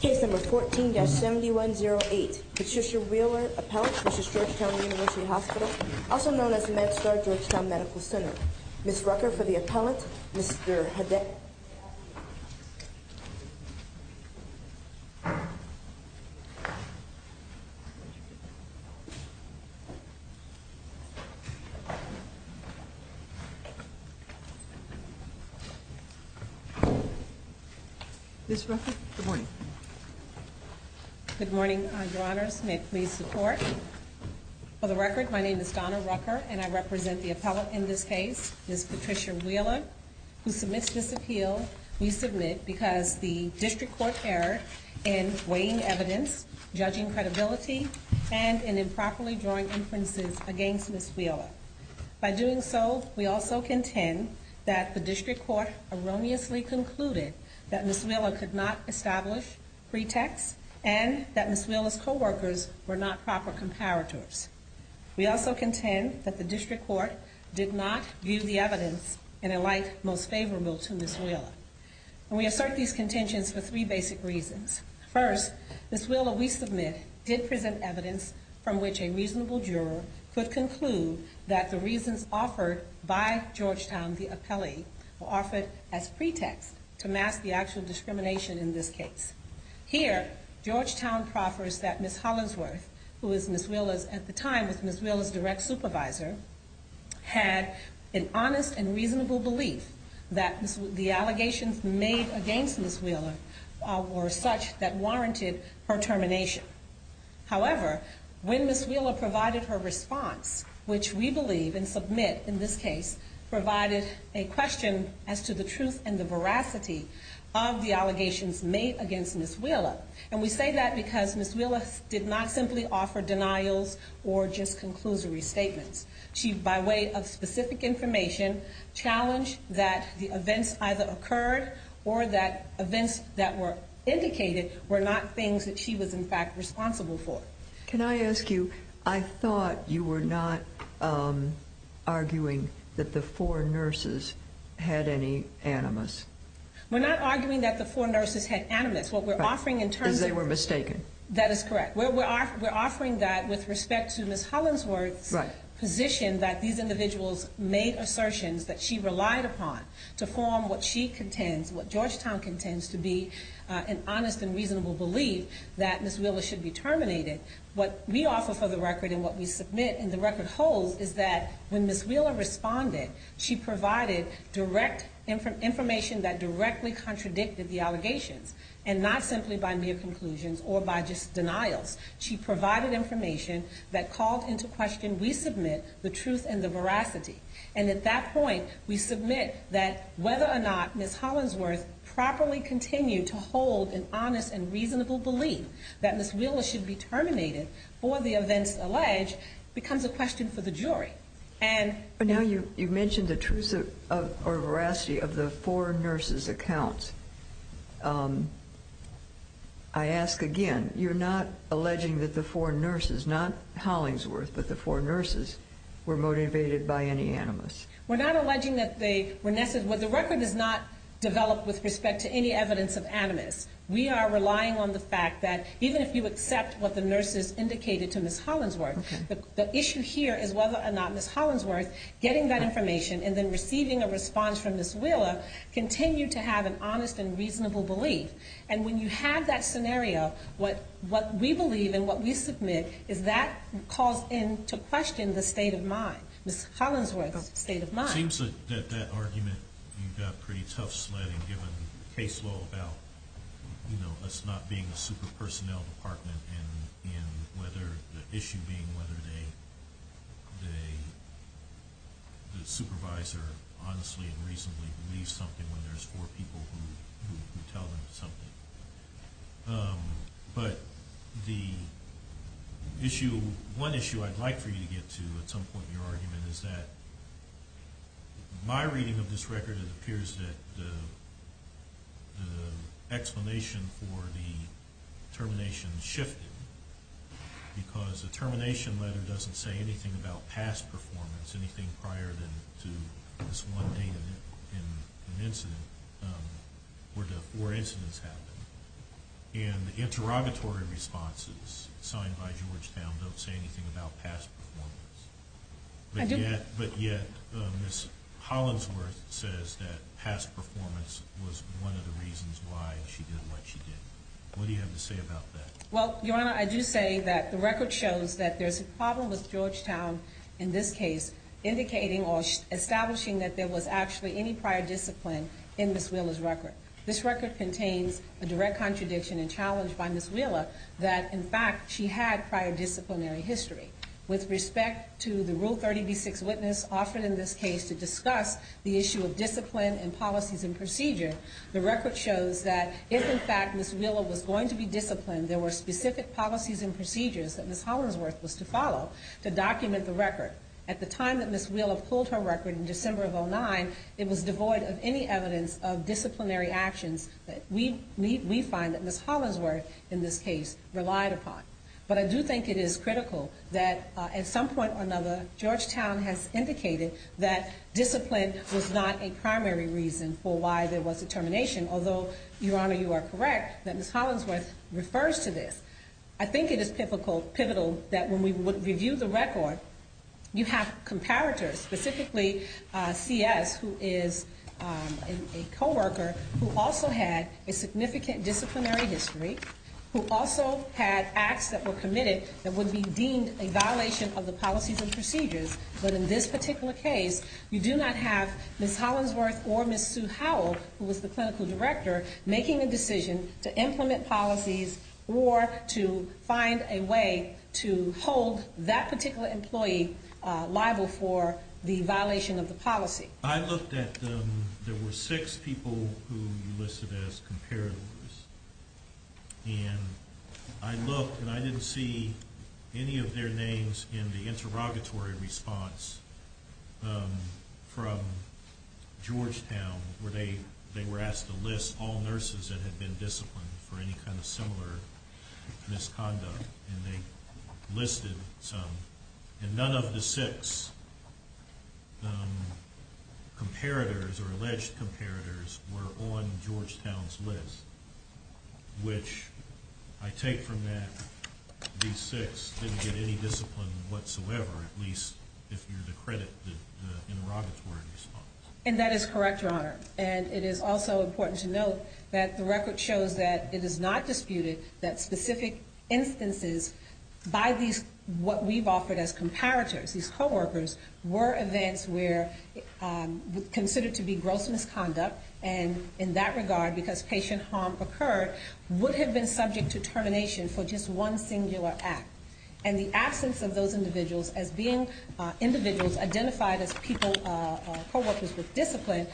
Case number 14-7108. Patricia Wheeler, appellant, v. Georgetown University Hospital, also known as MedStar Georgetown Medical Center. Ms. Rucker for the appellant, Mr. Hedeck. Ms. Rucker, good morning. Good morning, Your Honors. May it please the Court. For the record, my name is Donna Rucker, and I represent the appellant in this case, Ms. Patricia Wheeler, who submits this appeal. We submit because the district court error in weighing evidence, judging credibility, and in improperly drawing inferences against Ms. Wheeler. By doing so, we also contend that the district court erroneously concluded that Ms. Wheeler could not establish pretexts, and that Ms. Wheeler's coworkers were not proper comparators. We also contend that the district court did not view the evidence in a light most favorable to Ms. Wheeler. We assert these contentions for three basic reasons. First, Ms. Wheeler, we submit, did present evidence from which a reasonable juror could conclude that the reasons offered by Georgetown, the appellee, were offered as pretext to mask the actual discrimination in this case. Here, Georgetown proffers that Ms. Hollingsworth, who was Ms. Wheeler's, at the time, was Ms. Wheeler's direct supervisor, had an honest and reasonable belief that the allegations made against Ms. Wheeler were such that warranted her termination. However, when Ms. Wheeler provided her response, which we believe and submit in this case, provided a question as to the truth and the veracity of the allegations made against Ms. Wheeler, and we say that because Ms. Wheeler did not simply offer denials or just conclusory statements. She, by way of specific information, challenged that the events either occurred or that events that were indicated were not things that she was, in fact, responsible for. Can I ask you, I thought you were not arguing that the four nurses had any animus. We're not arguing that the four nurses had animus. What we're offering in terms of... Because they were mistaken. That is correct. We're offering that with respect to Ms. Hollingsworth's position that these individuals made assertions that she relied upon to form what she contends, what Georgetown contends to be an honest and reasonable belief that Ms. Wheeler should be terminated. What we offer for the record and what we submit and the record holds is that when Ms. Wheeler responded, she provided direct information that directly contradicted the allegations, and not simply by mere conclusions or by just denials. She provided information that called into question, we submit, the truth and the veracity. And at that point, we submit that whether or not Ms. Hollingsworth properly continued to hold an honest and reasonable belief that Ms. Wheeler should be terminated for the events alleged becomes a question for the jury. But now you've mentioned the truth or veracity of the four nurses' accounts. I ask again, you're not alleging that the four nurses, not Hollingsworth, but the four nurses were motivated by any animus? We're not alleging that they were... The record is not developed with respect to any evidence of animus. We are relying on the fact that even if you accept what the nurses indicated to Ms. Hollingsworth, the issue here is whether or not Ms. Hollingsworth getting that information and then receiving a response from Ms. Wheeler continued to have an honest and reasonable belief. And when you have that scenario, what we believe and what we submit is that calls into question the state of mind, It seems that that argument you've got pretty tough sledding given the case law about us not being a super personnel department and the issue being whether the supervisor honestly and reasonably believes something when there's four people who tell them something. But the issue, one issue I'd like for you to get to at some point in your argument is that my reading of this record, it appears that the explanation for the termination shifted because the termination letter doesn't say anything about past performance, anything prior to this one date in an incident where the four incidents happened. And the interrogatory responses signed by Georgetown don't say anything about past performance. But yet, Ms. Hollingsworth says that past performance was one of the reasons why she did what she did. What do you have to say about that? Well, Your Honor, I do say that the record shows that there's a problem with Georgetown in this case, indicating or establishing that there was actually any prior discipline in Ms. Wheeler's record. This record contains a direct contradiction and challenge by Ms. Wheeler that, in fact, she had prior disciplinary history. With respect to the Rule 30b-6 witness offered in this case to discuss the issue of discipline and policies and procedure, the record shows that if, in fact, Ms. Wheeler was going to be disciplined, there were specific policies and procedures that Ms. Hollingsworth was to follow to document the record. At the time that Ms. Wheeler pulled her record in December of 2009, it was devoid of any evidence of disciplinary actions that we find that Ms. Hollingsworth, in this case, relied upon. But I do think it is critical that, at some point or another, although, Your Honor, you are correct that Ms. Hollingsworth refers to this, I think it is pivotal that when we review the record, you have comparators, specifically C.S., who is a coworker who also had a significant disciplinary history, who also had acts that were committed that would be deemed a violation of the policies and procedures. But in this particular case, you do not have Ms. Hollingsworth or Ms. Sue Howell, who was the clinical director, making a decision to implement policies or to find a way to hold that particular employee liable for the violation of the policy. I looked at them. There were six people who you listed as comparators. And I looked and I didn't see any of their names in the interrogatory response from Georgetown, where they were asked to list all nurses that had been disciplined for any kind of similar misconduct. And they listed some. And none of the six comparators or alleged comparators were on Georgetown's list, which I take from that these six didn't get any discipline whatsoever, at least if you're to credit the interrogatory response. And that is correct, Your Honor. And it is also important to note that the record shows that it is not disputed that specific instances by these what we've offered as comparators, these coworkers, were events where considered to be gross misconduct. And in that regard, because patient harm occurred, would have been subject to termination for just one singular act. And the absence of those individuals as being individuals identified as people, coworkers with discipline,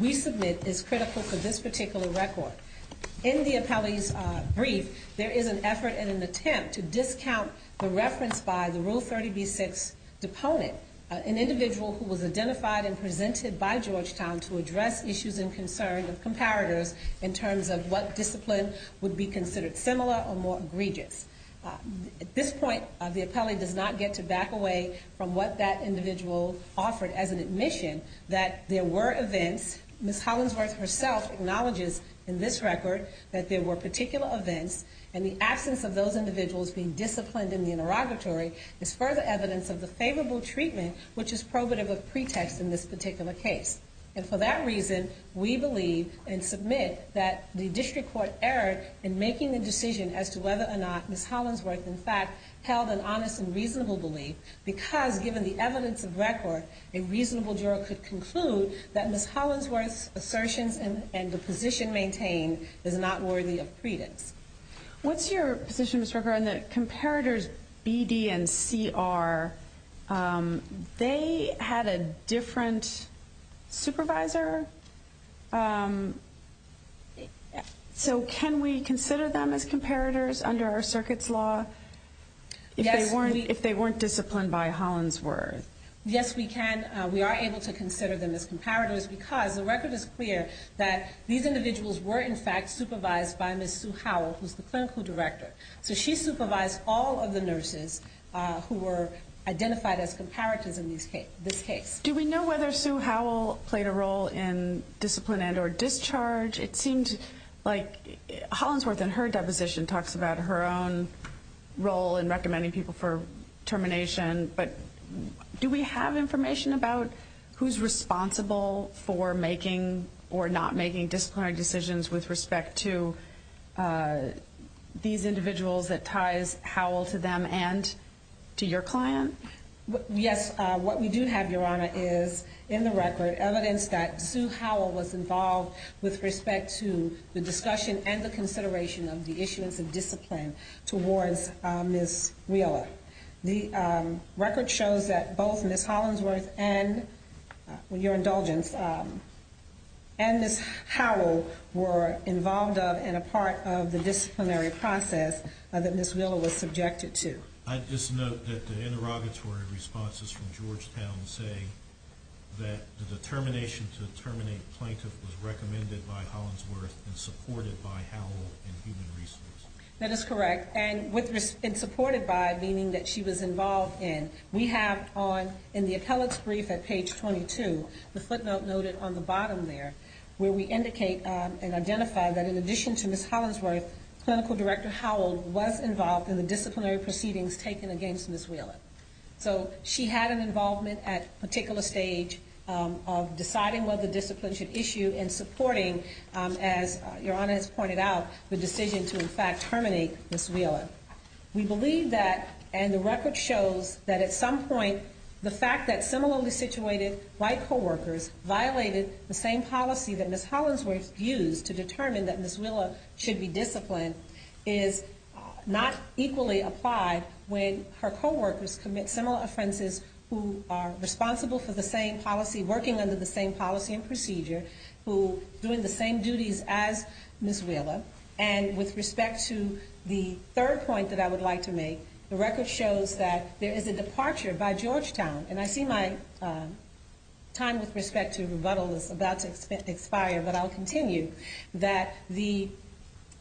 we submit is critical for this particular record. In the appellee's brief, there is an effort and an attempt to discount the reference by the Rule 30b-6 deponent, an individual who was identified and presented by Georgetown to address issues and concerns of comparators in terms of what discipline would be considered similar or more egregious. At this point, the appellee does not get to back away from what that individual offered as an admission, that there were events. Ms. Hollingsworth herself acknowledges in this record that there were particular events, and the absence of those individuals being disciplined in the interrogatory is further evidence of the favorable treatment, which is probative of pretext in this particular case. And for that reason, we believe and submit that the district court erred in making the decision as to whether or not Ms. Hollingsworth, in fact, held an honest and reasonable belief, because given the evidence of record, a reasonable juror could conclude that Ms. Hollingsworth's assertions and the position maintained is not worthy of pretext. What's your position, Ms. Rucker, on the comparators BD and CR? They had a different supervisor. So can we consider them as comparators under our circuit's law? If they weren't disciplined by Hollingsworth. Yes, we can. We are able to consider them as comparators because the record is clear that these individuals were, in fact, supervised by Ms. Sue Howell, who's the clinical director. So she supervised all of the nurses who were identified as comparators in this case. Do we know whether Sue Howell played a role in discipline and or discharge? It seems like Hollingsworth in her deposition talks about her own role in recommending people for termination, but do we have information about who's responsible for making or not making disciplinary decisions with respect to these individuals that ties Howell to them and to your client? Yes, what we do have, Your Honor, is in the record evidence that Sue Howell was involved with respect to the discussion and the consideration of the issuance of discipline towards Ms. Wheeler. The record shows that both Ms. Hollingsworth and, with your indulgence, and Ms. Howell were involved in a part of the disciplinary process that Ms. Wheeler was subjected to. I just note that the interrogatory responses from Georgetown say that the determination to terminate a plaintiff was recommended by Hollingsworth and supported by Howell in human resource. That is correct, and supported by meaning that she was involved in. We have in the appellate's brief at page 22, the footnote noted on the bottom there, where we indicate and identify that in addition to Ms. Hollingsworth, clinical director Howell was involved in the disciplinary proceedings taken against Ms. Wheeler. So she had an involvement at a particular stage of deciding what the discipline should issue and supporting, as Your Honor has pointed out, the decision to in fact terminate Ms. Wheeler. We believe that, and the record shows that at some point the fact that similarly situated white coworkers violated the same policy that Ms. Hollingsworth used to determine that Ms. Wheeler should be disciplined is not equally applied when her coworkers commit similar offenses who are responsible for the same policy, working under the same policy and procedure, who are doing the same duties as Ms. Wheeler. And with respect to the third point that I would like to make, the record shows that there is a departure by Georgetown, and I see my time with respect to rebuttal is about to expire, but I'll continue, that the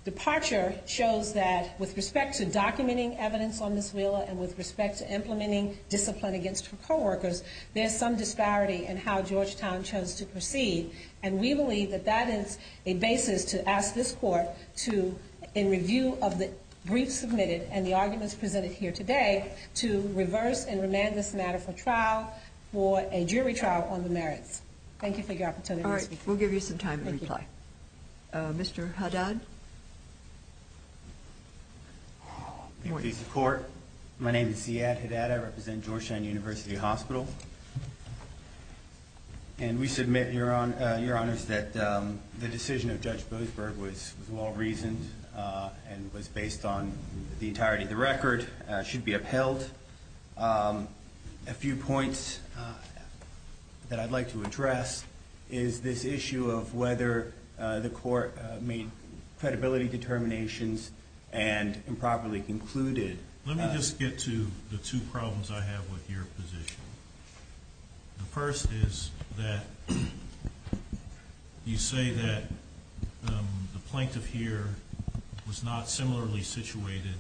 departure shows that with respect to documenting evidence on Ms. Wheeler and with respect to implementing discipline against her coworkers, there's some disparity in how Georgetown chose to proceed. And we believe that that is a basis to ask this court to, in review of the brief submitted and the arguments presented here today, to reverse and remand this matter for trial for a jury trial on the merits. Thank you for your opportunity to speak. All right, we'll give you some time to reply. Thank you. Mr. Haddad? Thank you for your support. My name is Ziad Haddad. I represent Georgetown University Hospital. And we submit, Your Honors, that the decision of Judge Boasberg was well-reasoned and was based on the entirety of the record, should be upheld. A few points that I'd like to address is this issue of whether the court made credibility determinations and improperly concluded. Let me just get to the two problems I have with your position. The first is that you say that the plaintiff here was not similarly situated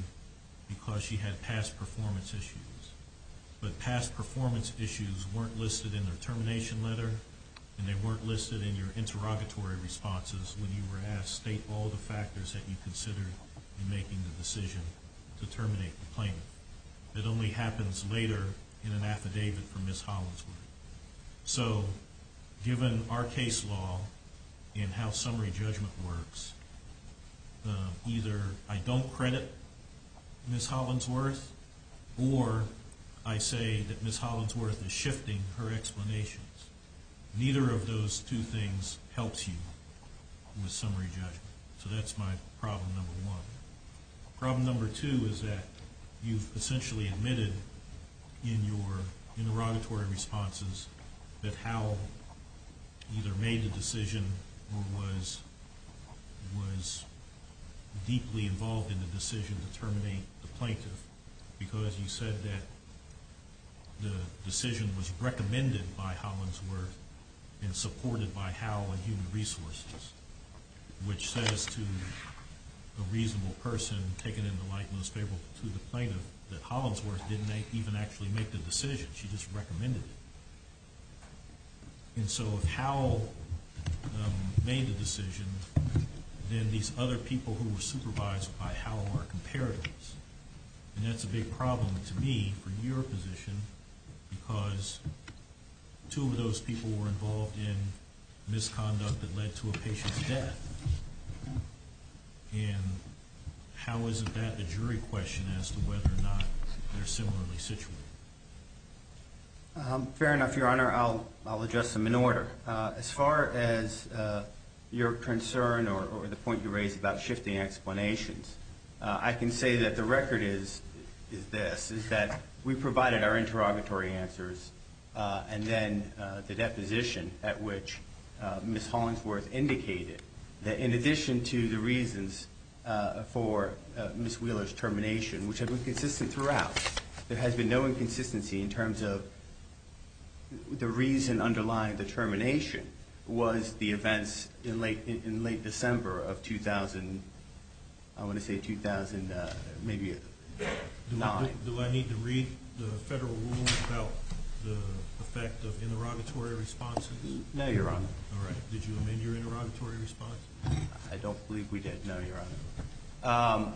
because she had past performance issues. But past performance issues weren't listed in her termination letter, and they weren't listed in your interrogatory responses when you were asked, state all the factors that you considered in making the decision to terminate the plaintiff. It only happens later in an affidavit for Ms. Hollinsworth. So, given our case law and how summary judgment works, either I don't credit Ms. Hollinsworth, or I say that Ms. Hollinsworth is shifting her explanations. Neither of those two things helps you with summary judgment. So that's my problem number one. Problem number two is that you've essentially admitted in your interrogatory responses that Hal either made the decision or was deeply involved in the decision to terminate the plaintiff because you said that the decision was recommended by Hollinsworth and supported by Hal and Human Resources, which says to a reasonable person, taken in the light and most favorable to the plaintiff, that Hollinsworth didn't even actually make the decision. She just recommended it. And so if Hal made the decision, then these other people who were supervised by Hal were comparatives. And that's a big problem to me for your position because two of those people were involved in misconduct that led to a patient's death. And how is that a jury question as to whether or not they're similarly situated? Fair enough, Your Honor. I'll address them in order. As far as your concern or the point you raised about shifting explanations, I can say that the record is this, is that we provided our interrogatory answers and then the deposition at which Ms. Hollinsworth indicated that in addition to the reasons for Ms. Wheeler's termination, which have been consistent throughout, there has been no inconsistency in terms of the reason underlying the termination was the events in late December of 2000, I want to say 2009. Do I need to read the Federal Rule about the effect of interrogatory responses? No, Your Honor. All right. Did you amend your interrogatory response? I don't believe we did, no, Your Honor.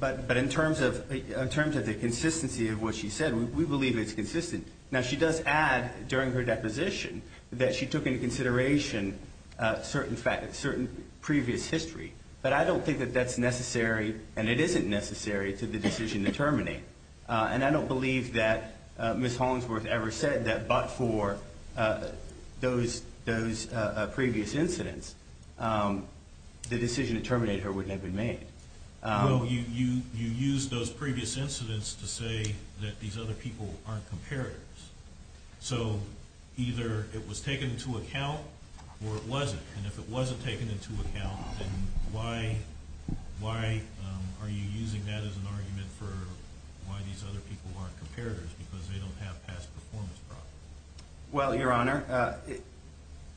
But in terms of the consistency of what she said, we believe it's consistent. Now, she does add during her deposition that she took into consideration certain previous history, but I don't think that that's necessary and it isn't necessary to the decision to terminate. And I don't believe that Ms. Hollinsworth ever said that but for those previous incidents, the decision to terminate her wouldn't have been made. Well, you used those previous incidents to say that these other people aren't comparators. So either it was taken into account or it wasn't. And if it wasn't taken into account, then why are you using that as an argument for why these other people aren't comparators because they don't have past performance problems? Well, Your Honor,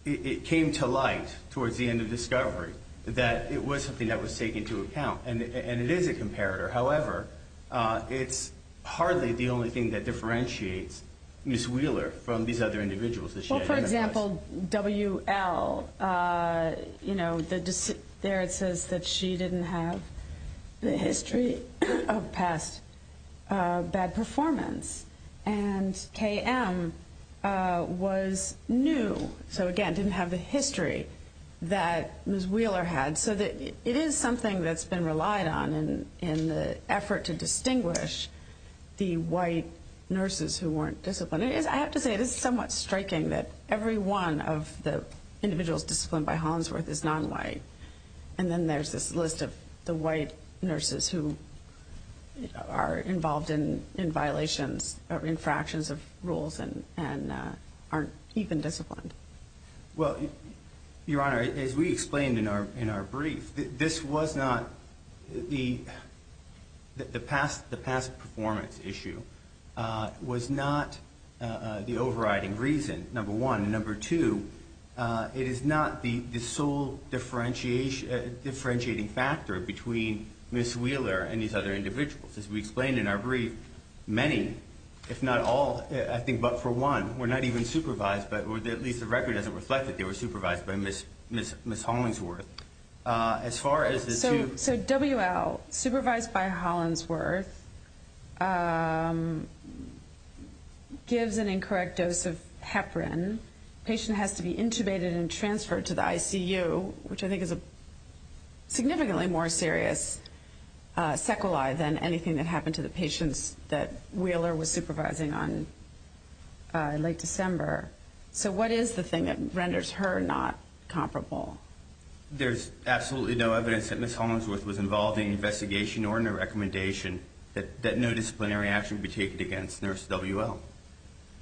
it came to light towards the end of discovery that it was something that was taken into account and it is a comparator. However, it's hardly the only thing that differentiates Ms. Wheeler from these other individuals. Well, for example, W.L., you know, there it says that she didn't have the history of past bad performance. And K.M. was new, so again, didn't have the history that Ms. Wheeler had. So it is something that's been relied on in the effort to distinguish the white nurses who weren't disciplined. And I have to say, it is somewhat striking that every one of the individuals disciplined by Hollingsworth is non-white. And then there's this list of the white nurses who are involved in violations or infractions of rules and aren't even disciplined. Well, Your Honor, as we explained in our brief, this was not the past performance issue was not the overriding reason, number one. Number two, it is not the sole differentiating factor between Ms. Wheeler and these other individuals. As we explained in our brief, many, if not all, I think but for one, were not even supervised, but at least the record doesn't reflect that they were supervised by Ms. Hollingsworth. So W.L., supervised by Hollingsworth, gives an incorrect dose of heparin. The patient has to be intubated and transferred to the ICU, which I think is a significantly more serious sequelae than anything that happened to the patients that Wheeler was supervising on late December. So what is the thing that renders her not comparable? There's absolutely no evidence that Ms. Hollingsworth was involved in the investigation or in the recommendation that no disciplinary action be taken against Nurse W.L.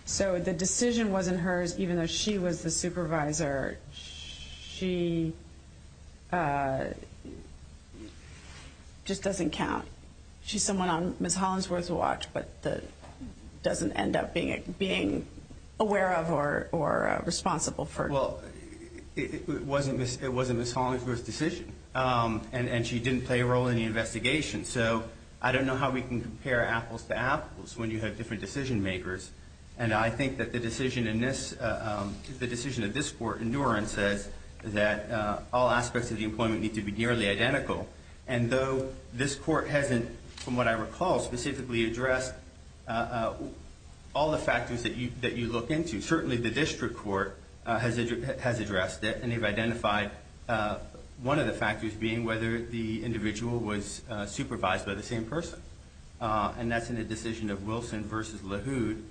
So the decision wasn't hers, even though she was the supervisor. She just doesn't count. She's someone on Ms. Hollingsworth's watch, but doesn't end up being aware of or responsible for it. Well, it wasn't Ms. Hollingsworth's decision, and she didn't play a role in the investigation. So I don't know how we can compare apples to apples when you have different decision makers, and I think that the decision of this Court in New Orleans says that all aspects of the employment need to be nearly identical. And though this Court hasn't, from what I recall, specifically addressed all the factors that you look into, certainly the district court has addressed it, and they've identified one of the factors being whether the individual was supervised by the same person, and that's in the decision of Wilson v. LaHood.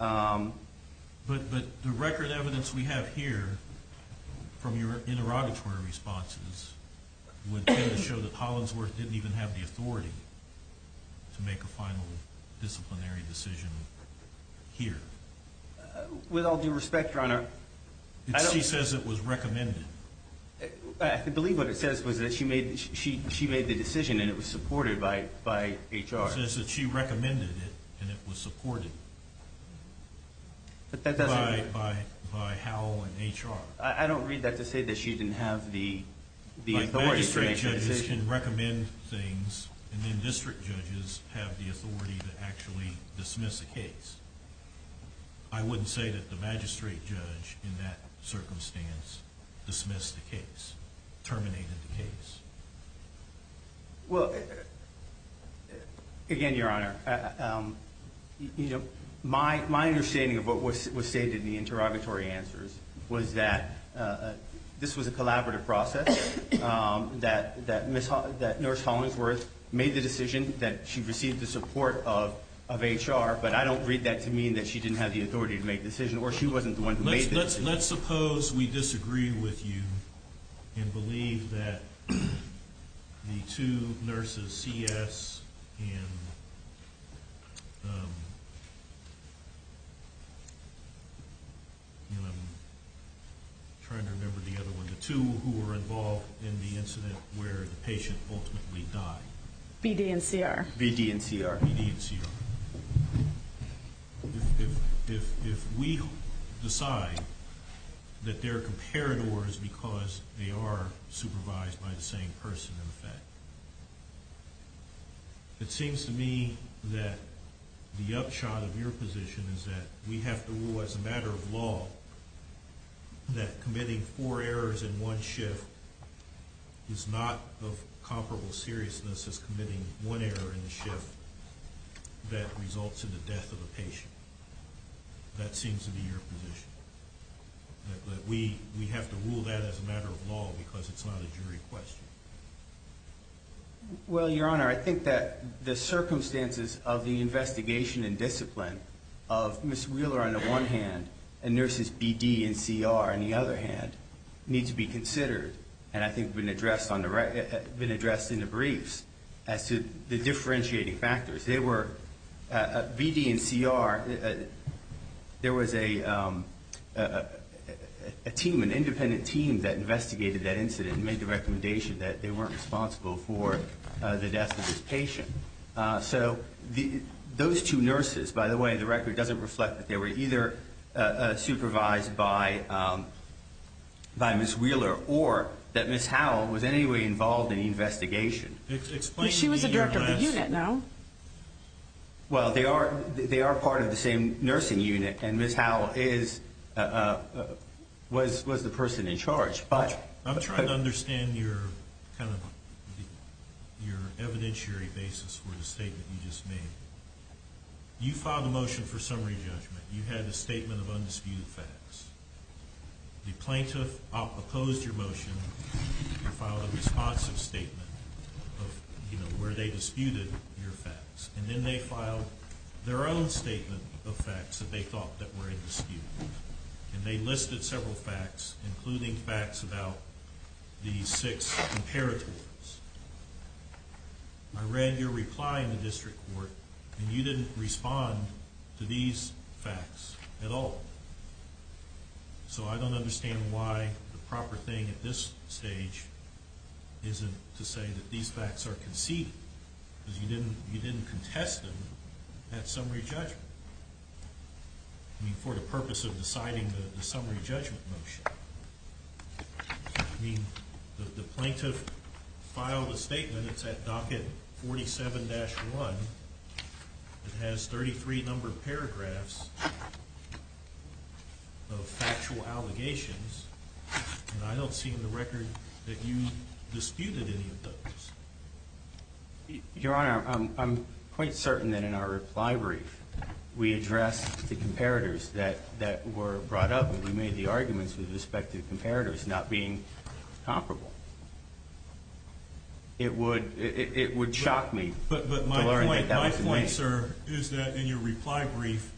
But the record evidence we have here from your interrogatory responses would tend to show that Hollingsworth didn't even have the authority to make a final disciplinary decision here. With all due respect, Your Honor, I don't – She says it was recommended. I believe what it says was that she made the decision, and it was supported by HR. It says that she recommended it, and it was supported by Howell and HR. I don't read that to say that she didn't have the authority to make the decision. Like, magistrate judges can recommend things, and then district judges have the authority to actually dismiss a case. I wouldn't say that the magistrate judge in that circumstance dismissed the case, terminated the case. Well, again, Your Honor, you know, my understanding of what was stated in the interrogatory answers was that this was a collaborative process, that Nurse Hollingsworth made the decision, that she received the support of HR, but I don't read that to mean that she didn't have the authority to make the decision, or she wasn't the one who made the decision. Let's suppose we disagree with you and believe that the two nurses, C.S. and – I'm trying to remember the other one – the two who were involved in the incident where the patient ultimately died. B.D. and C.R. B.D. and C.R. B.D. and C.R. If we decide that they're comparators because they are supervised by the same person in effect, it seems to me that the upshot of your position is that we have to rule as a matter of law that committing four errors in one shift is not of comparable seriousness as committing one error in the shift that results in the death of a patient. That seems to be your position, that we have to rule that as a matter of law because it's not a jury question. Well, Your Honor, I think that the circumstances of the investigation and discipline of Ms. Wheeler on the one hand and nurses B.D. and C.R. on the other hand need to be considered and I think have been addressed in the briefs as to the differentiating factors. B.D. and C.R., there was an independent team that investigated that incident and made the recommendation that they weren't responsible for the death of this patient. So those two nurses, by the way, the record doesn't reflect that they were either supervised by Ms. Wheeler or that Ms. Howell was in any way involved in the investigation. She was the director of the unit, no? Well, they are part of the same nursing unit and Ms. Howell was the person in charge. I'm trying to understand your evidentiary basis for the statement you just made. You filed a motion for summary judgment. You had a statement of undisputed facts. The plaintiff opposed your motion and filed a responsive statement where they disputed your facts. And then they filed their own statement of facts that they thought were in dispute. And they listed several facts, including facts about these six imperators. I read your reply in the district court and you didn't respond to these facts at all. So I don't understand why the proper thing at this stage isn't to say that these facts are conceded because you didn't contest them at summary judgment. I mean, for the purpose of deciding the summary judgment motion. I mean, the plaintiff filed a statement. It's at docket 47-1. It has 33 numbered paragraphs of factual allegations. And I don't see in the record that you disputed any of those. Your Honor, I'm quite certain that in our reply brief we addressed the imperators that were brought up and we made the arguments with respect to imperators not being comparable. It would shock me to learn that that was the case. But my point, sir, is that in your reply brief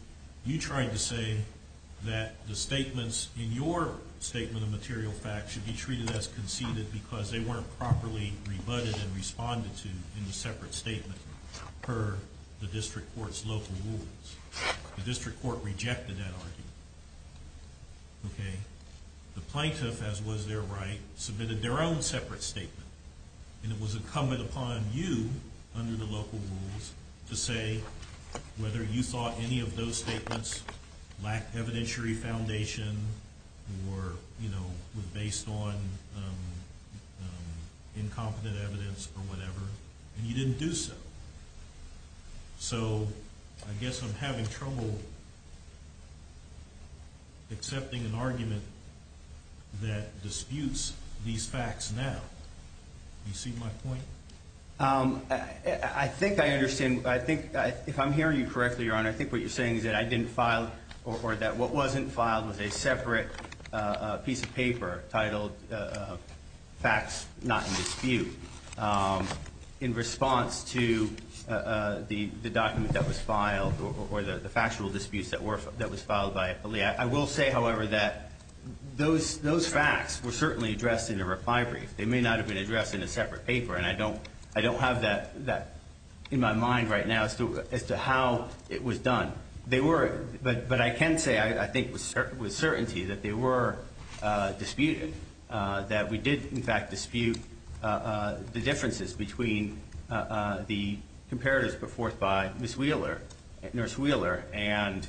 you tried to say that the statements in your statement of material facts should be treated as conceded because they weren't properly rebutted and responded to in the separate statement per the district court's local rules. The district court rejected that argument. The plaintiff, as was their right, submitted their own separate statement. And it was incumbent upon you under the local rules to say whether you thought any of those statements lacked evidentiary foundation or were based on incompetent evidence or whatever. And you didn't do so. So I guess I'm having trouble accepting an argument that disputes these facts now. Do you see my point? I think I understand. If I'm hearing you correctly, Your Honor, I think what you're saying is that I didn't file or that what wasn't filed was a separate piece of paper titled facts not in dispute in response to the document that was filed or the factual disputes that was filed by a plea. I will say, however, that those facts were certainly addressed in the reply brief. They may not have been addressed in a separate paper. And I don't have that in my mind right now as to how it was done. But I can say I think with certainty that they were disputed, that we did, in fact, dispute the differences between the comparatives put forth by Ms. Wheeler, Nurse Wheeler, and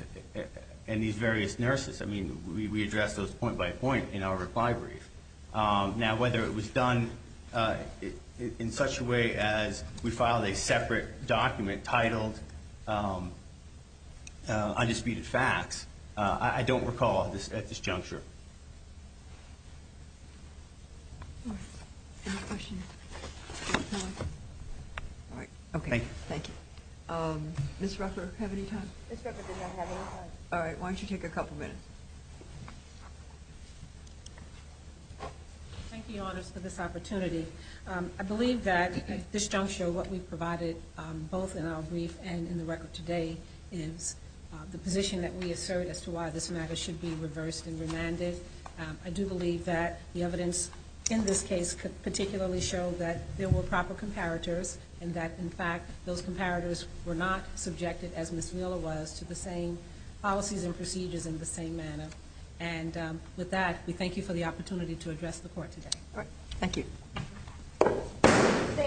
these various nurses. I mean, we addressed those point by point in our reply brief. Now, whether it was done in such a way as we filed a separate document titled undisputed facts, I don't recall at this juncture. Any questions? All right. Okay. Thank you. Ms. Rucker, have any time? Ms. Rucker does not have any time. All right. Why don't you take a couple minutes? Thank you, Your Honors, for this opportunity. I believe that at this juncture what we've provided both in our brief and in the record today is the position that we assert as to why this matter should be reversed and remanded. I do believe that the evidence in this case could particularly show that there were proper comparators and that, in fact, those comparators were not subjected, as Ms. Wheeler was, to the same policies and procedures in the same manner. And with that, we thank you for the opportunity to address the Court today. All right. Thank you.